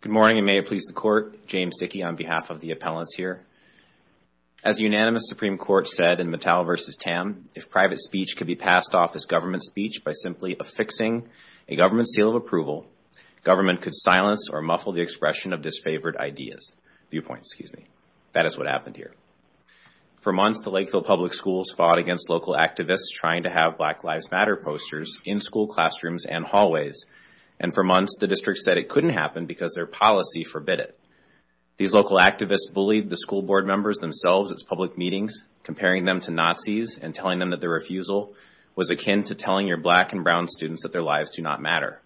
Good morning, and may it please the Court, James Dickey on behalf of the appellants here. As the unanimous Supreme Court said in Mattel v. Tam, if private speech could be passed off as government speech by simply affixing a government seal of approval, government could silence or muffle the expression of disfavored ideas—viewpoints, excuse me. That is what happened here. For months, the Lakeville Public Schools fought against local activists trying to have Black Lives Matter posters in school classrooms and hallways. And for months, the district said it couldn't happen because their policy forbid it. These local activists bullied the school board members themselves at public meetings, comparing them to Nazis and telling them that their refusal was akin to telling your black and brown students that their lives do not matter.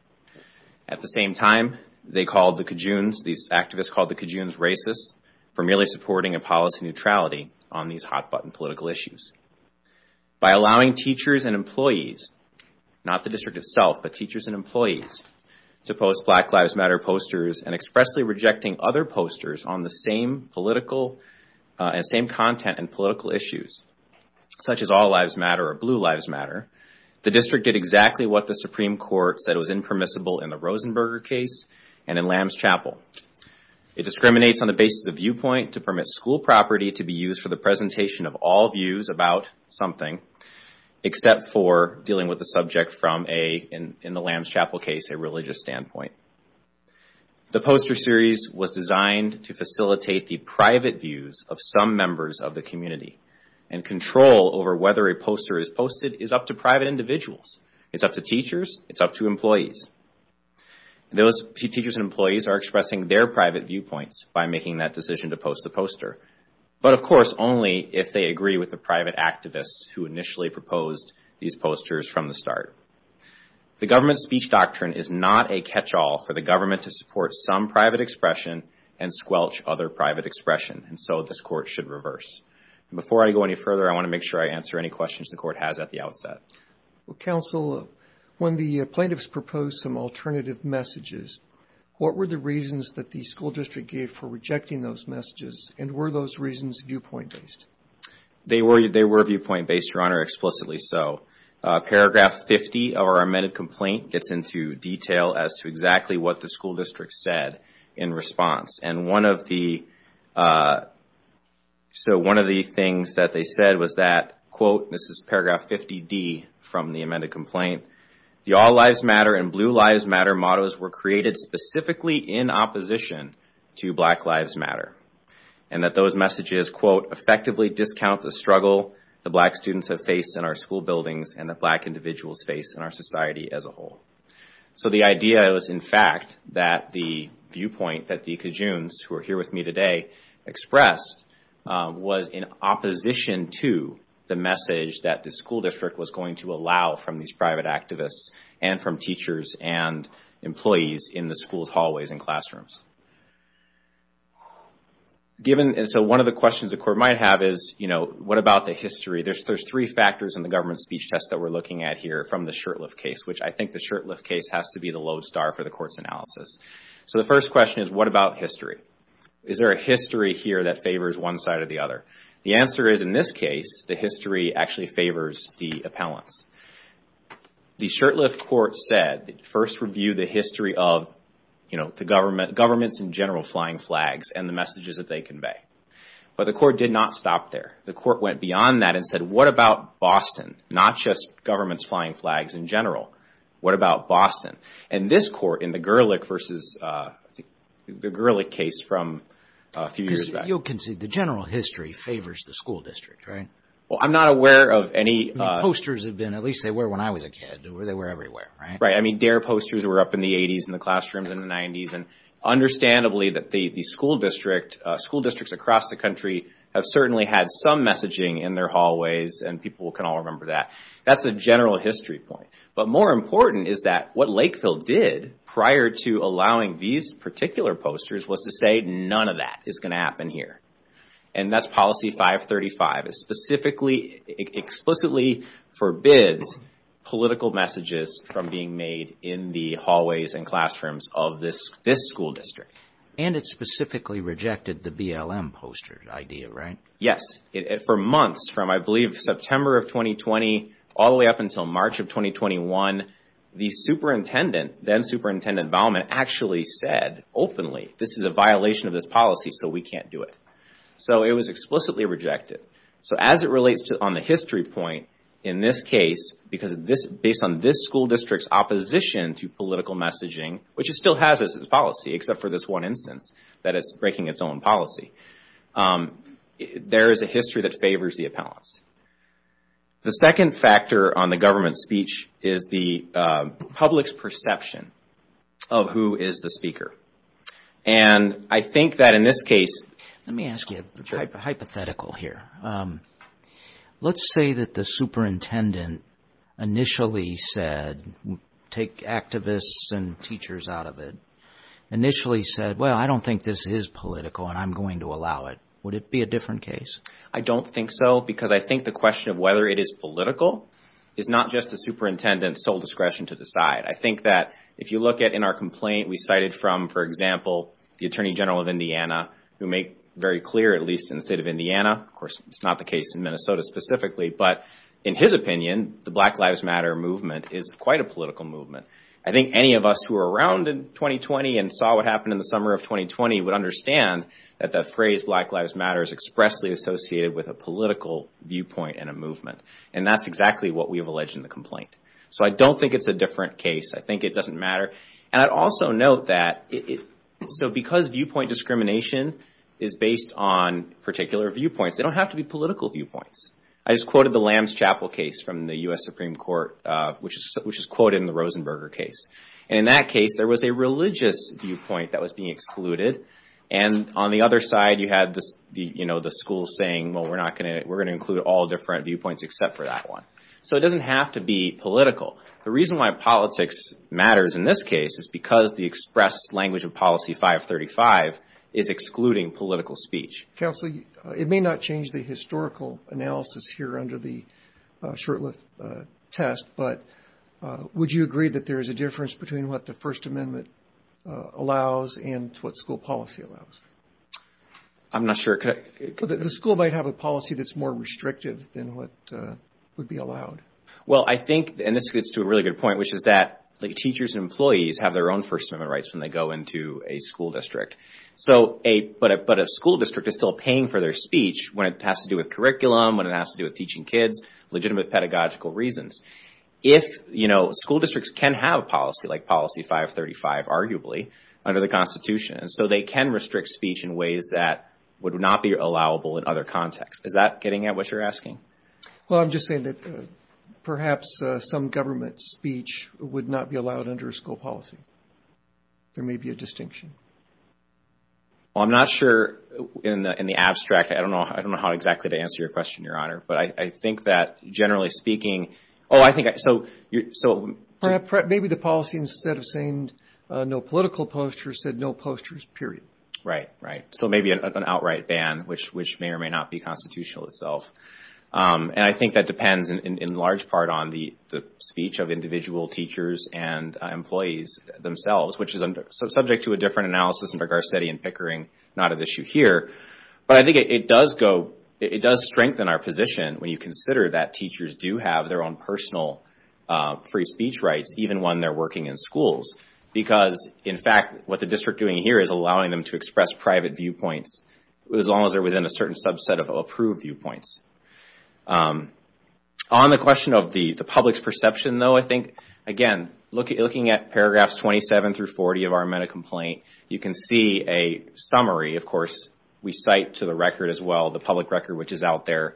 At the same time, they called the Cajunes—these activists called the Cajunes racist for merely supporting a policy of neutrality on these hot-button political issues. By allowing teachers and employees—not the district itself, but teachers and employees—to post Black Lives Matter posters and expressly rejecting other posters on the same content and political issues, such as All Lives Matter or Blue Lives Matter, the district did exactly what the Supreme Court said was impermissible in the Rosenberger case and in Lamb's Chapel. It discriminates on the basis of viewpoint to permit school property to be used for the presentation of all views about something, except for dealing with the subject from a, in the Lamb's Chapel case, a religious standpoint. The poster series was designed to facilitate the private views of some members of the community. And control over whether a poster is posted is up to private individuals. It's up to employees. Those teachers and employees are expressing their private viewpoints by making that decision to post the poster. But, of course, only if they agree with the private activists who initially proposed these posters from the start. The government's speech doctrine is not a catch-all for the government to support some private expression and squelch other private expression, and so this Court should reverse. And before I go any further, I want to make sure I answer any questions the Court has at the outset. Well, Counsel, when the plaintiffs proposed some alternative messages, what were the reasons that the school district gave for rejecting those messages, and were those reasons viewpoint-based? They were viewpoint-based, Your Honor, explicitly so. Paragraph 50 of our amended complaint gets into detail as to exactly what the school district said in response. And one of the, so one of the things that they said was that, quote, and this is paragraph 50D from the amended complaint, the All Lives Matter and Blue Lives Matter mottos were created specifically in opposition to Black Lives Matter. And that those messages, quote, effectively discount the struggle the black students have faced in our school buildings and that black individuals face in our society as a whole. So the idea is, in fact, that the viewpoint that the Cajuns, who are here with me today, expressed was in opposition to the message that the school district was going to allow from these private activists and from teachers and employees in the school's hallways and classrooms. Given, and so one of the questions the Court might have is, you know, what about the history? There's three factors in the government speech test that we're looking at here from the Shurtleff case, which I think the Shurtleff case has to be the lodestar for the Court's analysis. So the first question is, what about history? Is there a history here that favors one side or the other? The answer is, in this case, the history actually favors the appellants. The Shurtleff Court said, first review the history of, you know, the government, governments in general flying flags and the messages that they convey. But the Court did not stop there. The Court went beyond that and said, what about Boston? Not just governments flying flags in general. What about Boston? And this Court in the Gerlich versus the Gerlich case from a few years back. You can see the general history favors the school district, right? Well, I'm not aware of any. Posters have been, at least they were when I was a kid, they were everywhere, right? Right. I mean, DARE posters were up in the 80s and the classrooms in the 90s and understandably that the school district, school districts across the country have certainly had some messaging in their hallways and people can all remember that. That's a general history point. But more important is that what Lakeville did prior to allowing these particular posters was to say none of that is going to happen here. And that's policy 535. It specifically, explicitly forbids political messages from being made in the hallways and classrooms of this, this school district. And it specifically rejected the BLM poster idea, right? Yes, for months from, I believe, September of 2020 all the way up until March of 2021, the superintendent, then superintendent Baumann actually said openly, this is a violation of this policy, so we can't do it. So it was explicitly rejected. So as it relates to on the history point in this case, because this, based on this school district's opposition to political messaging, which it still has as its policy, except for this one instance, that it's breaking its own policy. There is a history that favors the appellants. The second factor on the government speech is the public's perception of who is the speaker. And I think that in this case... Let me ask you a hypothetical here. Let's say that the superintendent initially said, take activists and teachers out of it, initially said, well, I don't think this is political and I'm going to allow it. Would it be a different case? I don't think so, because I think the question of whether it is political is not just the superintendent's sole discretion to decide. I think that if you look at in our complaint, we cited from, for example, the attorney general of Indiana, who make very clear, at least in the state of Indiana, of course, it's not the case in Minnesota specifically, but in his opinion, the Black Lives Matter movement is quite a political movement. I think any of us who are around in 2020 and saw what happened in the summer of 2020 would understand that the phrase Black Lives Matter is expressly associated with a political viewpoint and a movement. And that's exactly what we have alleged in the complaint. So I don't think it's a different case. I think it doesn't matter. And I'd also note that... So because viewpoint discrimination is based on particular viewpoints, they don't have to be political viewpoints. I just quoted the Lamb's Chapel case from the U.S. Supreme Court, which is quoted in the Rosenberger case. And in that case, there was a religious viewpoint that was being excluded. And on the other side, you had the school saying, well, we're going to include all different viewpoints except for that one. So it doesn't have to be political. The reason why politics matters in this case is because the express language of policy 535 is excluding political speech. Counsel, it may not change the historical analysis here under the short-lived test, but would you agree that there is a difference between what the First Amendment allows and what school policy allows? I'm not sure. The school might have a policy that's more restrictive than what would be allowed. Well, I think, and this gets to a really good point, which is that teachers and employees have their own First Amendment rights when they go into a school district. So, but a school district is still paying for their speech when it has to do with curriculum, when it has to do with teaching kids, legitimate pedagogical reasons. If, you know, school districts can have policy like policy 535, arguably, under the Constitution. And so they can restrict speech in ways that would not be allowable in other contexts. Is that getting at what you're asking? Well, I'm just saying that perhaps some government speech would not be allowed under school policy. There may be a distinction. Well, I'm not sure in the abstract. I don't know. I don't know how exactly to answer your question, Your Honor. But I think that, generally speaking, oh, I think so. Maybe the policy, instead of saying no political posters, said no posters, period. Right, right. So maybe an outright ban, which may or may not be constitutional itself. And I think that depends in large part on the speech of individual teachers and employees themselves, which is subject to a different analysis under Garcetti and Pickering. Not an issue here. But I think it does go, it does strengthen our position when you consider that teachers do have their own personal free speech rights, even when they're working in schools. Because, in fact, what the district doing here is allowing them to express private viewpoints as long as they're within a certain subset of approved viewpoints. On the question of the public's perception, though, again, looking at paragraphs 27 through 40 of our meta-complaint, you can see a summary, of course, we cite to the record as well, the public record which is out there,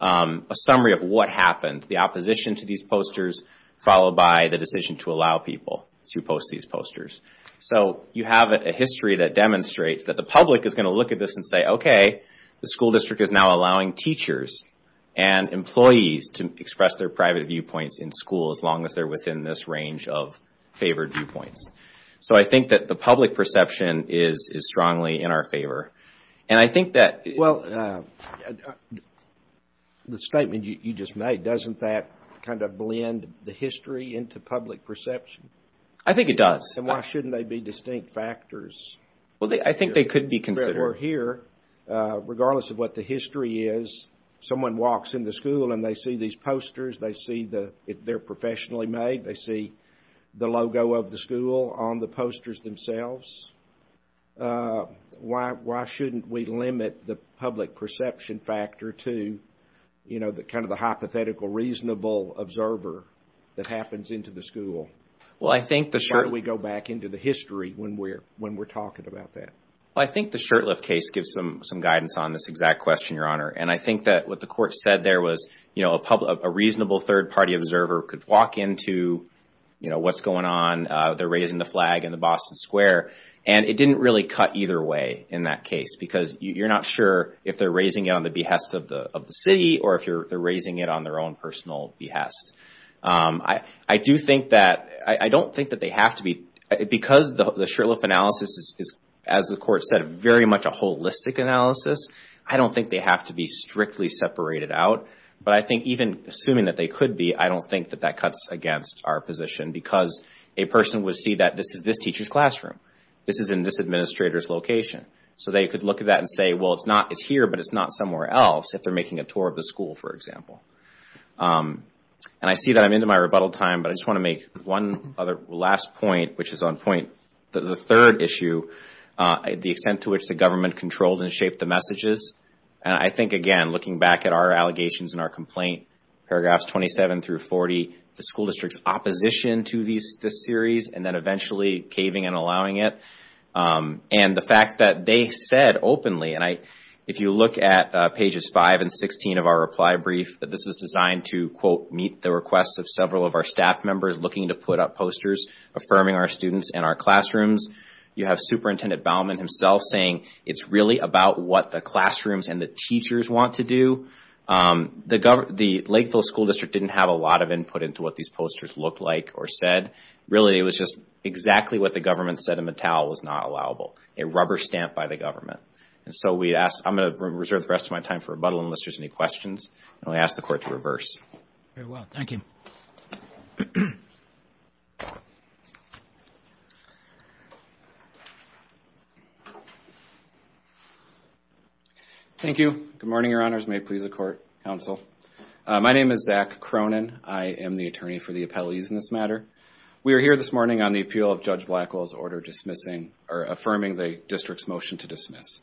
a summary of what happened. The opposition to these posters, followed by the decision to allow people to post these posters. So you have a history that demonstrates that the public is going to look at this and say, OK, the school district is now allowing teachers and employees to express their private viewpoints in school as long as they're within this range of favored viewpoints. So I think that the public perception is strongly in our favor. And I think that... Well, the statement you just made, doesn't that kind of blend the history into public perception? I think it does. And why shouldn't they be distinct factors? Well, I think they could be considered. We're here, regardless of what the history is, someone walks in the school and they see these posters, they see that they're professionally made, they see the logo of the school on the posters themselves. Why shouldn't we limit the public perception factor to, you know, the kind of the hypothetical reasonable observer that happens into the school? Well, I think the... Why don't we go back into the history when we're talking about that? Well, I think the Shurtleff case gives some guidance on this exact question, Your Honor. And I think that what the court said there was, you know, a reasonable third party observer could walk into, you know, what's going on. They're raising the flag in the Boston Square. And it didn't really cut either way in that case, because you're not sure if they're raising it on the behest of the city or if they're raising it on their own personal behest. I do think that... I don't think that they have to be... Because the Shurtleff analysis is, as the court said, very much a holistic analysis. I don't think they have to be strictly separated out. But I think even assuming that they could be, I don't think that that cuts against our position. Because a person would see that this is this teacher's classroom. This is in this administrator's location. So they could look at that and say, well, it's not... It's here, but it's not somewhere else if they're making a tour of the school, for example. And I see that I'm into my rebuttal time, but I just want to make one other last point, which is on point. The third issue, the extent to which the government controlled and shaped the messages. And I think, again, looking back at our allegations and our complaint, paragraphs 27 through 40, the school district's opposition to this series and then eventually caving and allowing it. And the fact that they said openly, and if you look at pages 5 and 16 of our reply brief, that this was designed to, quote, meet the requests of several of our staff members looking to put up posters affirming our students and our classrooms. You have Superintendent Baumann himself saying, it's really about what the classrooms and the teachers want to do. The Lakeville School District didn't have a lot of input into what these posters looked like or said. Really, it was just exactly what the government said in Mattel was not allowable, a rubber stamp by the government. And so we asked... I'm going to reserve the rest of my time for rebuttal unless there's any questions. And I ask the court to reverse. Very well, thank you. Thank you. Good morning, your honors. May it please the court, counsel. My name is Zach Cronin. I am the attorney for the appellees in this matter. We are here this morning on the appeal of Judge Blackwell's order dismissing, or affirming the district's motion to dismiss.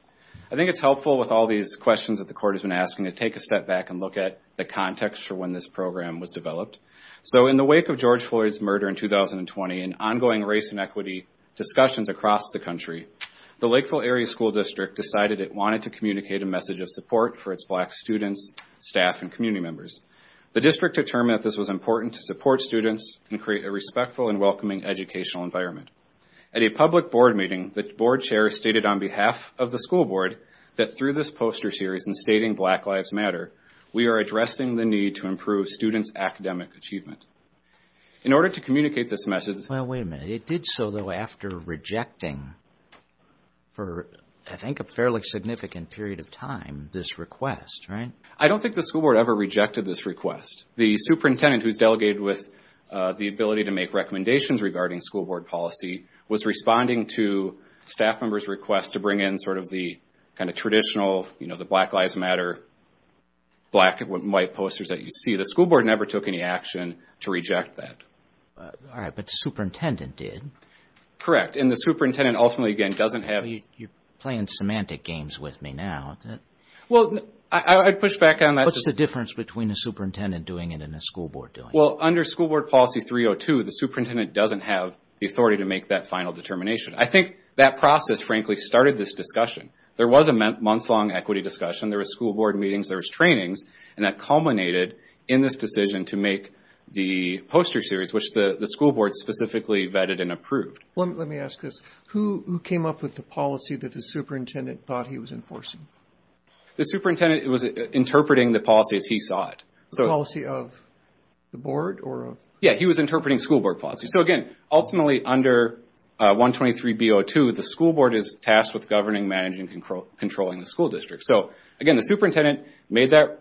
I think it's helpful with all these questions that the court has been asking to take a step back and look at the context for when this program was developed. So in the wake of George Floyd's murder in 2020, and ongoing race and equity discussions across the country, the Lakeville Area School District decided it wanted to communicate a message of support for its black students, staff, and community members. The district determined that this was important to support students and create a respectful and welcoming educational environment. At a public board meeting, the board chair stated on behalf of the school board that through this poster series and stating Black Lives Matter, we are addressing the need to improve students' academic achievement. In order to communicate this message- Well, wait a minute. It did so though after rejecting, for I think a fairly significant period of time, this request, right? I don't think the school board ever rejected this request. The superintendent who's delegated with the ability to make recommendations regarding school board policy was responding to staff members' request to bring in sort of the kind of traditional, you know, the Black Lives Matter, black and white posters that you see. The school board never took any action to reject that. All right, but the superintendent did. Correct, and the superintendent ultimately, again, doesn't have- You're playing semantic games with me now. Well, I'd push back on that- What's the difference between a superintendent doing it and a school board doing it? Well, under School Board Policy 302, the superintendent doesn't have the authority to make that final determination. I think that process, frankly, started this discussion. There was a months-long equity discussion. There was school board meetings. There was trainings, and that culminated in this decision to make the poster series, which the school board specifically vetted and approved. Well, let me ask this. Who came up with the policy that the superintendent thought he was enforcing? The superintendent was interpreting the policy as he saw it. The policy of the board or of- Yeah, he was interpreting School Board Policy. So again, ultimately, under 123B02, the school board is tasked with governing, managing, and controlling the school district. So again, the superintendent made that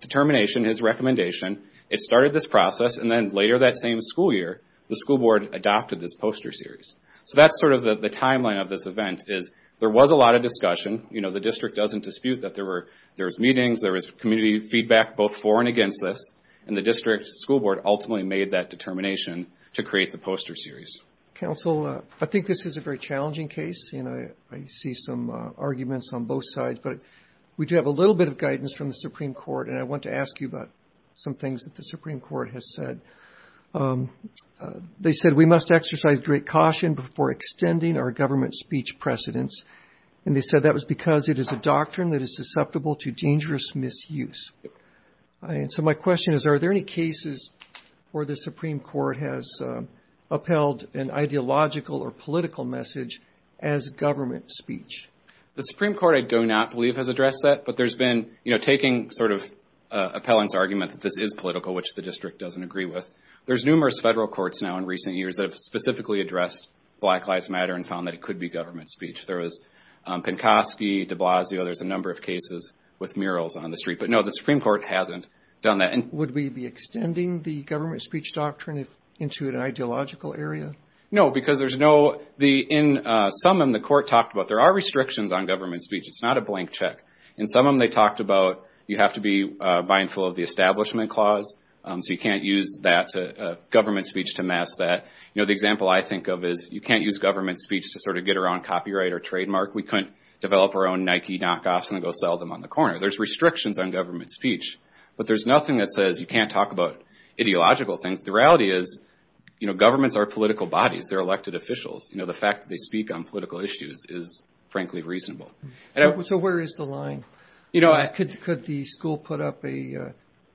determination, his recommendation. It started this process, and then later that same school year, the school board adopted this poster series. So that's sort of the timeline of this event, is there was a lot of discussion. The district doesn't dispute that there was meetings. There was community feedback, both for and against this, and the district school board ultimately made that determination to create the poster series. Counsel, I think this is a very challenging case, and I see some arguments on both sides, but we do have a little bit of guidance from the Supreme Court, and I want to ask you about some things that the Supreme Court has said. They said, we must exercise great caution before extending our government speech precedents. And they said that was because it is a doctrine that is susceptible to dangerous misuse. So my question is, are there any cases where the Supreme Court has upheld an ideological or political message as government speech? The Supreme Court, I do not believe, has addressed that, but there's been, you know, taking sort of Appellant's argument that this is political, which the district doesn't agree with. There's numerous federal courts now in recent years that have specifically addressed Black Lives Matter and found that it could be government speech. There was Pankoski, de Blasio, there's a number of cases with murals on the street. But no, the Supreme Court hasn't done that. And would we be extending the government speech doctrine into an ideological area? No, because there's no... In some of them, the court talked about there are restrictions on government speech. It's not a blank check. In some of them, they talked about you have to be mindful of the Establishment Clause. So you can't use government speech to mask that. You know, the example I think of is you can't use government speech to sort of get around copyright or trademark. We couldn't develop our own Nike knockoffs and then go sell them on the corner. There's restrictions on government speech. But there's nothing that says you can't talk about ideological things. The reality is governments are political bodies. They're elected officials. The fact that they speak on political issues is frankly reasonable. So where is the line? Could the school put up a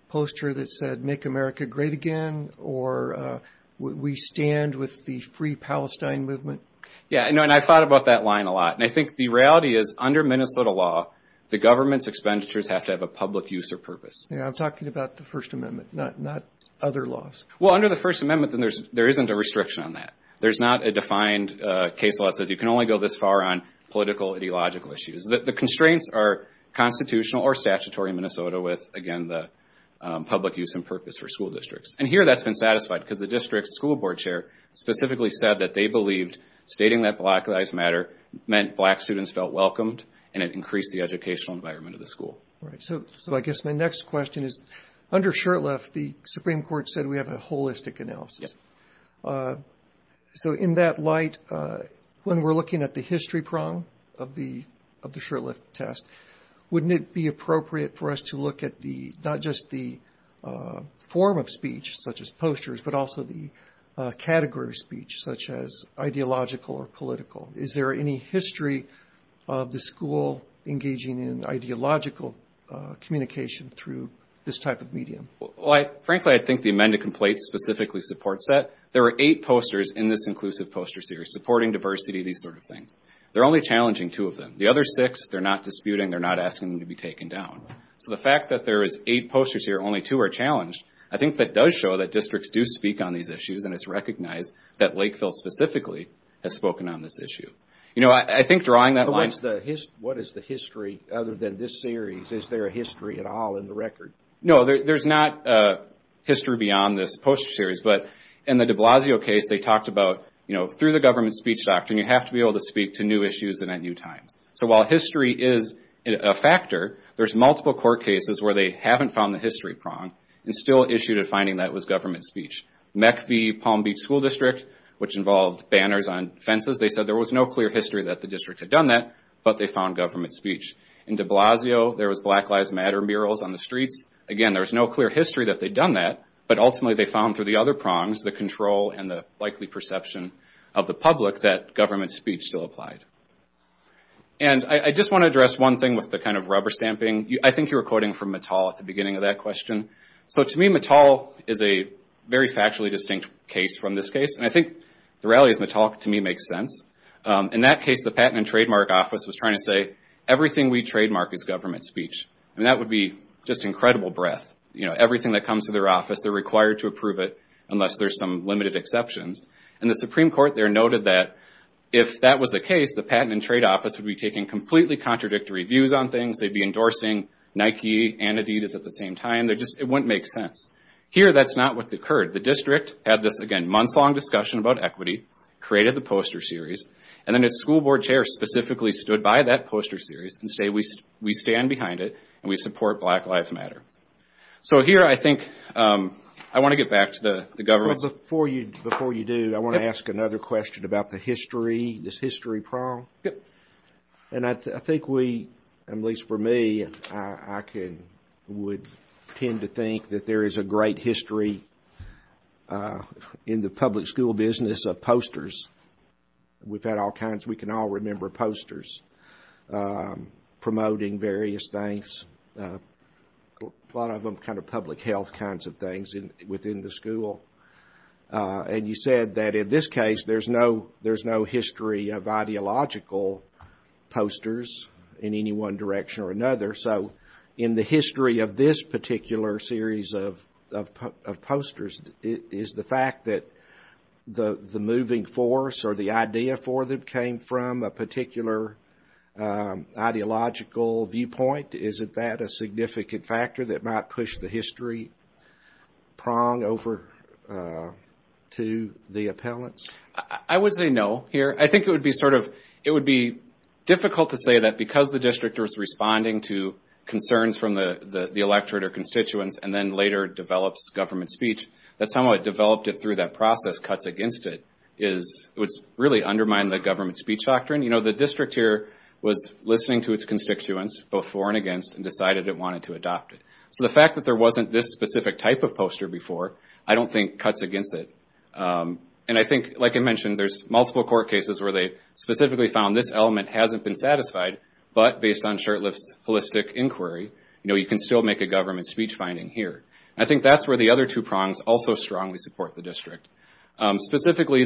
poster that said make America great again? Or we stand with the free Palestine movement? Yeah, and I thought about that line a lot. And I think the reality is under Minnesota law, the government's expenditures have to have a public use or purpose. Yeah, I'm talking about the First Amendment, not other laws. Well, under the First Amendment, then there isn't a restriction on that. There's not a defined case law that says you can only go this far on political ideological issues. The constraints are constitutional or statutory in Minnesota with, again, the public use and purpose for school districts. And here that's been satisfied because the district school board chair specifically said that they believed stating that Black Lives Matter meant black students felt welcomed and it increased the educational environment of the school. Right, so I guess my next question is under Shurtleff, the Supreme Court said we have a holistic analysis. So in that light, when we're looking at the history prong of the Shurtleff test, wouldn't it be appropriate for us to look at not just the form of speech, such as posters, but also the category of speech, such as ideological or political? Is there any history of the school engaging in ideological communication through this type of medium? Frankly, I think the amended complaint specifically supports that. There are eight posters in this inclusive poster series, supporting diversity, these sort of things. They're only challenging two of them. The other six, they're not disputing, they're not asking them to be taken down. So the fact that there is eight posters here, only two are challenged, I think that does show that districts do speak on these issues and it's recognized that Lakeville specifically has spoken on this issue. You know, I think drawing that line... What is the history other than this series? Is there a history at all in the record? No, there's not history beyond this poster series, but in the de Blasio case, they talked about, you know, through the government speech doctrine, you have to be able to speak to new issues and at new times. So while history is a factor, there's multiple court cases where they haven't found the history prong and still issued a finding that it was government speech. Meck v. Palm Beach School District, which involved banners on fences, they said there was no clear history that the district had done that, but they found government speech. In de Blasio, there was Black Lives Matter murals on the streets. Again, there was no clear history that they'd done that, but ultimately they found through the other prongs, the control and the likely perception of the public that government speech still applied. And I just want to address one thing with the kind of rubber stamping. I think you were quoting from Mattal at the beginning of that question. So to me, Mattal is a very factually distinct case from this case. And I think the reality is Mattal, to me, makes sense. In that case, the Patent and Trademark Office was trying to say, everything we trademark is government speech. And that would be just incredible breath. Everything that comes to their office, they're required to approve it unless there's some limited exceptions. And the Supreme Court there noted that if that was the case, the Patent and Trade Office would be taking completely contradictory views on things. They'd be endorsing Nike and Adidas at the same time. They're just, it wouldn't make sense. Here, that's not what occurred. The district had this, again, months-long discussion about equity, created the poster series, and then its school board chair specifically stood by that poster series and say, we stand behind it and we support Black Lives Matter. So here, I think, I want to get back to the government. Well, before you do, I want to ask another question about the history, this history prong. And I think we, at least for me, I would tend to think that there is a great history in the public school business of posters. We've had all kinds, we can all remember posters. Promoting various things, a lot of them kind of public health kinds of things within the school. And you said that in this case, there's no history of ideological posters in any one direction or another. So in the history of this particular series of posters, it is the fact that the moving force or the idea for that came from a particular ideological viewpoint. Isn't that a significant factor that might push the history prong over to the appellants? I would say no here. I think it would be sort of, it would be difficult to say that because the district was responding to concerns from the electorate or constituents and then later develops government speech, that somewhat developed it through that process cuts against it. It would really undermine the government speech doctrine. The district here was listening to its constituents, both for and against, and decided it wanted to adopt it. So the fact that there wasn't this specific type of poster before, I don't think cuts against it. And I think, like I mentioned, there's multiple court cases where they specifically found this element hasn't been satisfied, but based on Shurtleff's holistic inquiry, you can still make a government speech finding here. And I think that's where the other two prongs also strongly support the district. Specifically,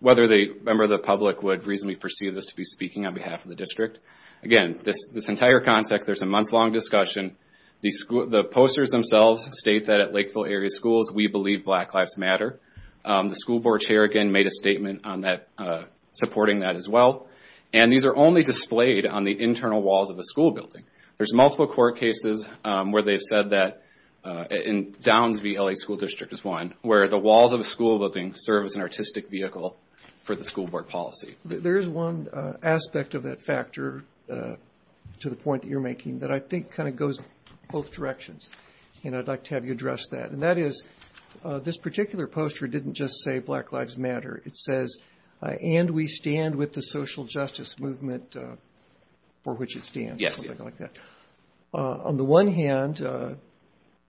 whether the member of the public would reasonably perceive this to be speaking on behalf of the district. Again, this entire concept, there's a month-long discussion. The posters themselves state that at Lakeville Area Schools, we believe Black Lives Matter. The school board chair, again, made a statement on that, supporting that as well. And these are only displayed on the internal walls of a school building. There's multiple court cases where they've said that, in Downs v. LA School District is one, where the walls of a school building serve as an artistic vehicle for the school board policy. There's one aspect of that factor to the point that you're making that I think kind of goes both directions. And I'd like to have you address that. And that is, this particular poster didn't just say Black Lives Matter. It says, and we stand with the social justice movement for which it stands, something like that. On the one hand,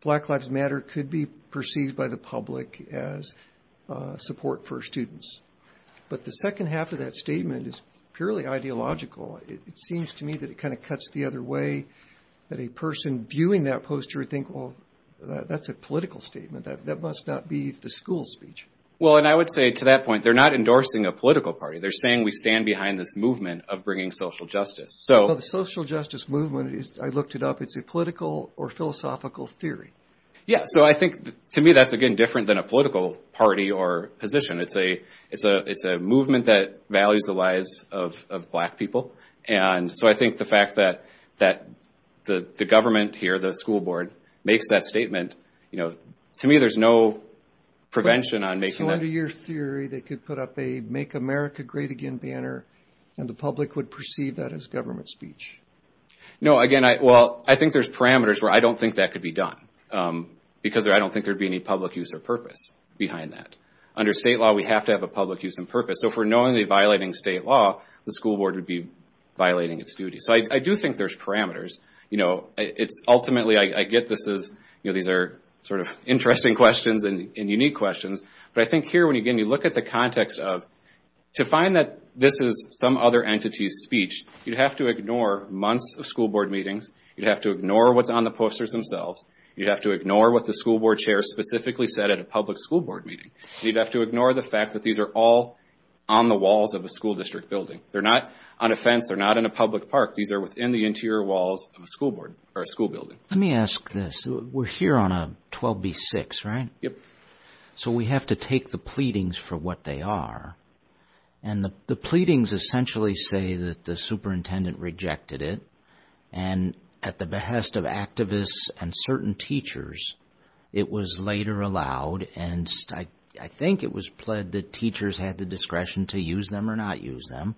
Black Lives Matter could be perceived by the public as support for students. But the second half of that statement is purely ideological. It seems to me that it kind of cuts the other way, that a person viewing that poster would think, well, that's a political statement. That must not be the school's speech. Well, and I would say to that point, they're not endorsing a political party. They're saying we stand behind this movement of bringing social justice. So the social justice movement is, I looked it up, it's a political or philosophical theory. Yeah, so I think, to me, that's, again, different than a political party or position. It's a movement that values the lives of black people. And so I think the fact that the government here, the school board, makes that statement, to me, there's no prevention on making that. So under your theory, they could put up a Make America Great Again banner, and the public would perceive that as government speech. No, again, well, I think there's parameters where I don't think that could be done. Because I don't think there'd be any public use or purpose behind that. Under state law, we have to have a public use and purpose. So if we're knowingly violating state law, the school board would be violating its duty. So I do think there's parameters. Ultimately, I get this as, these are sort of interesting questions and unique questions. But I think here, when, again, you look at the context of, to find that this is some other entity's speech, you'd have to ignore months of school board meetings. You'd have to ignore what's on the posters themselves. You'd have to ignore what the school board chair specifically said at a public school board meeting. You'd have to ignore the fact that these are all on the walls of a school district building. They're not on a fence. They're not in a public park. These are within the interior walls of a school board or a school building. Let me ask this. We're here on a 12b-6, right? Yep. So we have to take the pleadings for what they are. And the pleadings essentially say that the superintendent rejected it. And at the behest of activists and certain teachers, it was later allowed. And I think it was pled that teachers had the discretion to use them or not use them.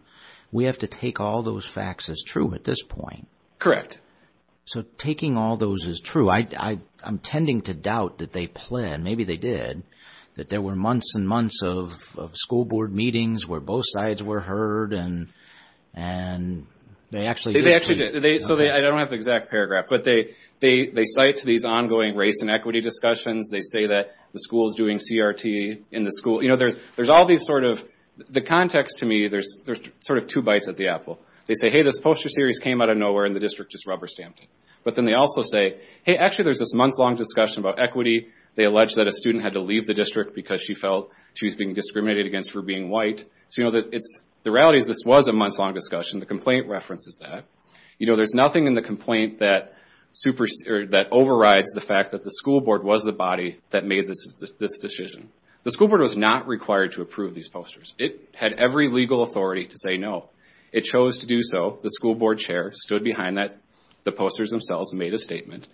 We have to take all those facts as true at this point. Correct. So taking all those is true. I'm tending to doubt that they pled. Maybe they did. That there were months and months of school board meetings where both sides were heard. And they actually did. So I don't have the exact paragraph, but they cite these ongoing race and equity discussions. They say that the school's doing CRT. The context to me, there's sort of two bites at the apple. They say, hey, this poster series came out of nowhere and the district just rubber stamped it. But then they also say, hey, actually there's this months-long discussion about equity. They allege that a student had to leave the district because she felt she was being The reality is this was a months-long discussion. The complaint references that. There's nothing in the complaint that overrides the fact that the school board was the body that made this decision. The school board was not required to approve these posters. It had every legal authority to say no. It chose to do so. The school board chair stood behind that. The posters themselves made a statement.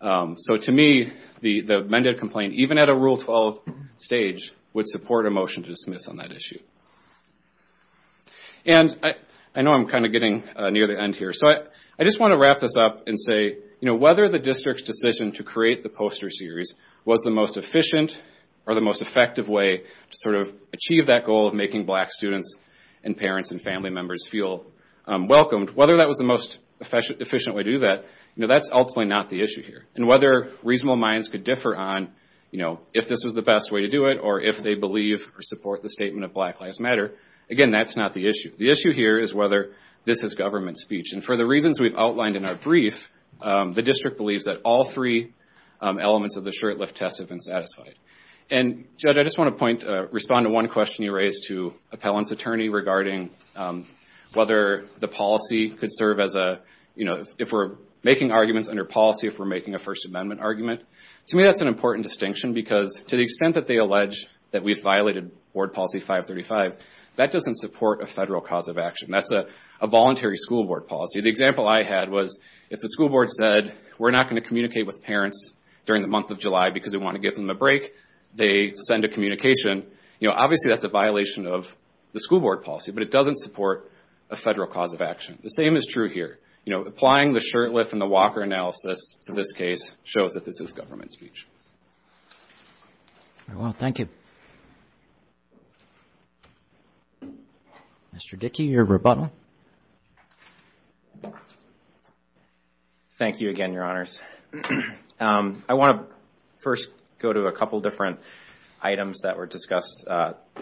So to me, the amended complaint, even at a Rule 12 stage, would support a motion to dismiss on that issue. And I know I'm kind of getting near the end here. I just want to wrap this up and say, whether the district's decision to create the poster series was the most efficient or the most effective way to achieve that goal of making black students and parents and family members feel welcomed, whether that was the most efficient way to do that, that's ultimately not the issue here. Whether reasonable minds could differ on if this was the best way to do it or if they believe or support the statement of Black Lives Matter, again, that's not the issue. The issue here is whether this is government speech. For the reasons we've outlined in our brief, the district believes that all three elements of the short-lift test have been satisfied. And, Judge, I just want to point, respond to one question you raised to Appellant's attorney regarding whether the policy could serve as a, if we're making arguments under policy, if we're making a First Amendment argument. To me, that's an important distinction because to the extent that they allege that we've violated Board Policy 535, that doesn't support a federal cause of action. That's a voluntary school board policy. The example I had was, if the school board said, we're not going to communicate with parents during the month of July because we want to give them a break, they send a communication. You know, obviously, that's a violation of the school board policy, but it doesn't support a federal cause of action. The same is true here. You know, applying the short-lift and the Walker analysis to this case shows that this is government speech. Well, thank you. Mr. Dickey, your rebuttal. Thank you again, Your Honors. I want to first go to a couple of different items that were discussed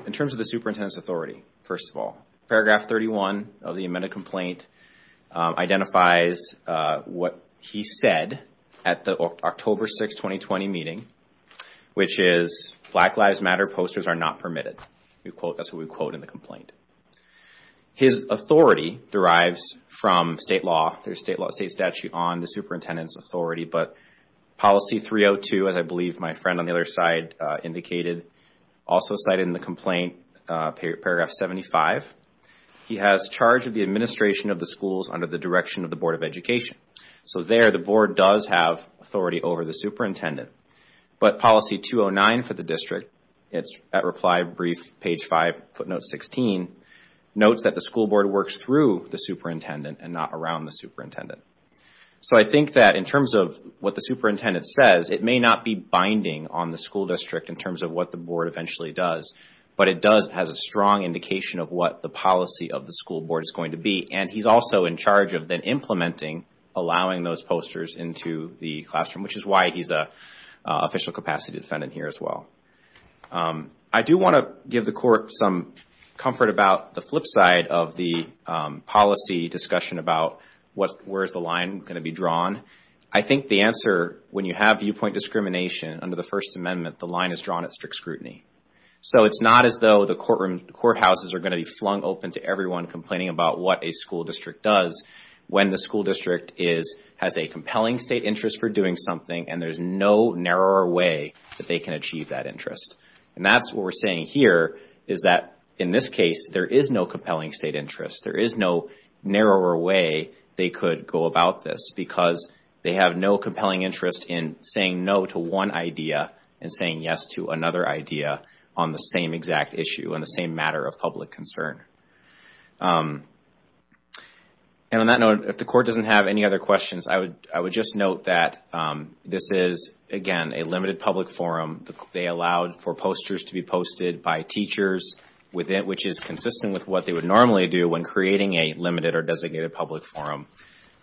in terms of the superintendent's authority. First of all, paragraph 31 of the amended complaint identifies what he said at the October 6, 2020 meeting, which is, Black Lives Matter posters are not permitted. That's what we quote in the complaint. His authority derives from state law. There's a state statute on the superintendent's authority, but policy 302, as I believe my friend on the other side indicated, also cited in the complaint, paragraph 75, he has charge of the administration of the schools under the direction of the Board of Education. So there, the board does have authority over the superintendent. But policy 209 for the district, it's at reply brief, page five, footnote 16, notes that the school board works through the superintendent and not around the superintendent. So I think that in terms of what the superintendent says, it may not be binding on the school district in terms of what the board eventually does, but it does have a strong indication of what the policy of the school board is going to be. And he's also in charge of then implementing, allowing those posters into the classroom, which is why he's a official capacity defendant here as well. I do want to give the court some comfort about the flip side of the policy discussion about where's the line going to be drawn. I think the answer, when you have viewpoint discrimination under the First Amendment, the line is drawn at strict scrutiny. So it's not as though the courtroom, courthouses are going to be flung open to everyone complaining about what a school district does when the school district is, has a compelling state interest for doing something and there's no narrower way that they can achieve that interest. And that's what we're saying here is that in this case, there is no compelling state interest. There is no narrower way they could go about this because they have no compelling interest in saying no to one idea and saying yes to another idea on the same exact issue on the same matter of public concern. And on that note, if the court doesn't have any other questions, I would just note that this is, again, a limited public forum. They allowed for posters to be posted by teachers, which is consistent with what they would normally do when creating a limited or designated public forum.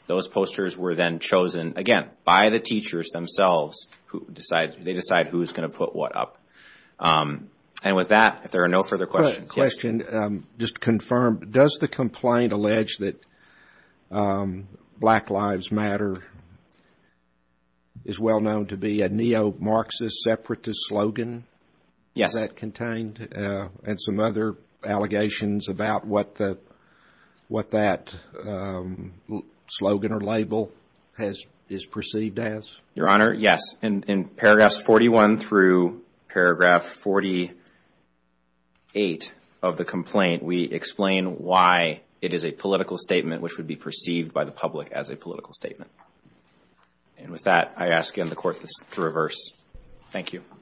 Those posters were then chosen, again, by the teachers themselves, who decide, they decide who's going to put what up. And with that, if there are no further questions. Question, just to confirm, does the complaint allege that Black Lives Matter is well known to be a neo-Marxist separatist slogan? Yes. Is that contained? And some other allegations about what that slogan or label is perceived as? Your Honor, yes. In paragraphs 41 through paragraph 48 of the complaint, we explain why it is a political statement which would be perceived by the public as a political statement. And with that, I ask, again, the Court to reverse. Thank you.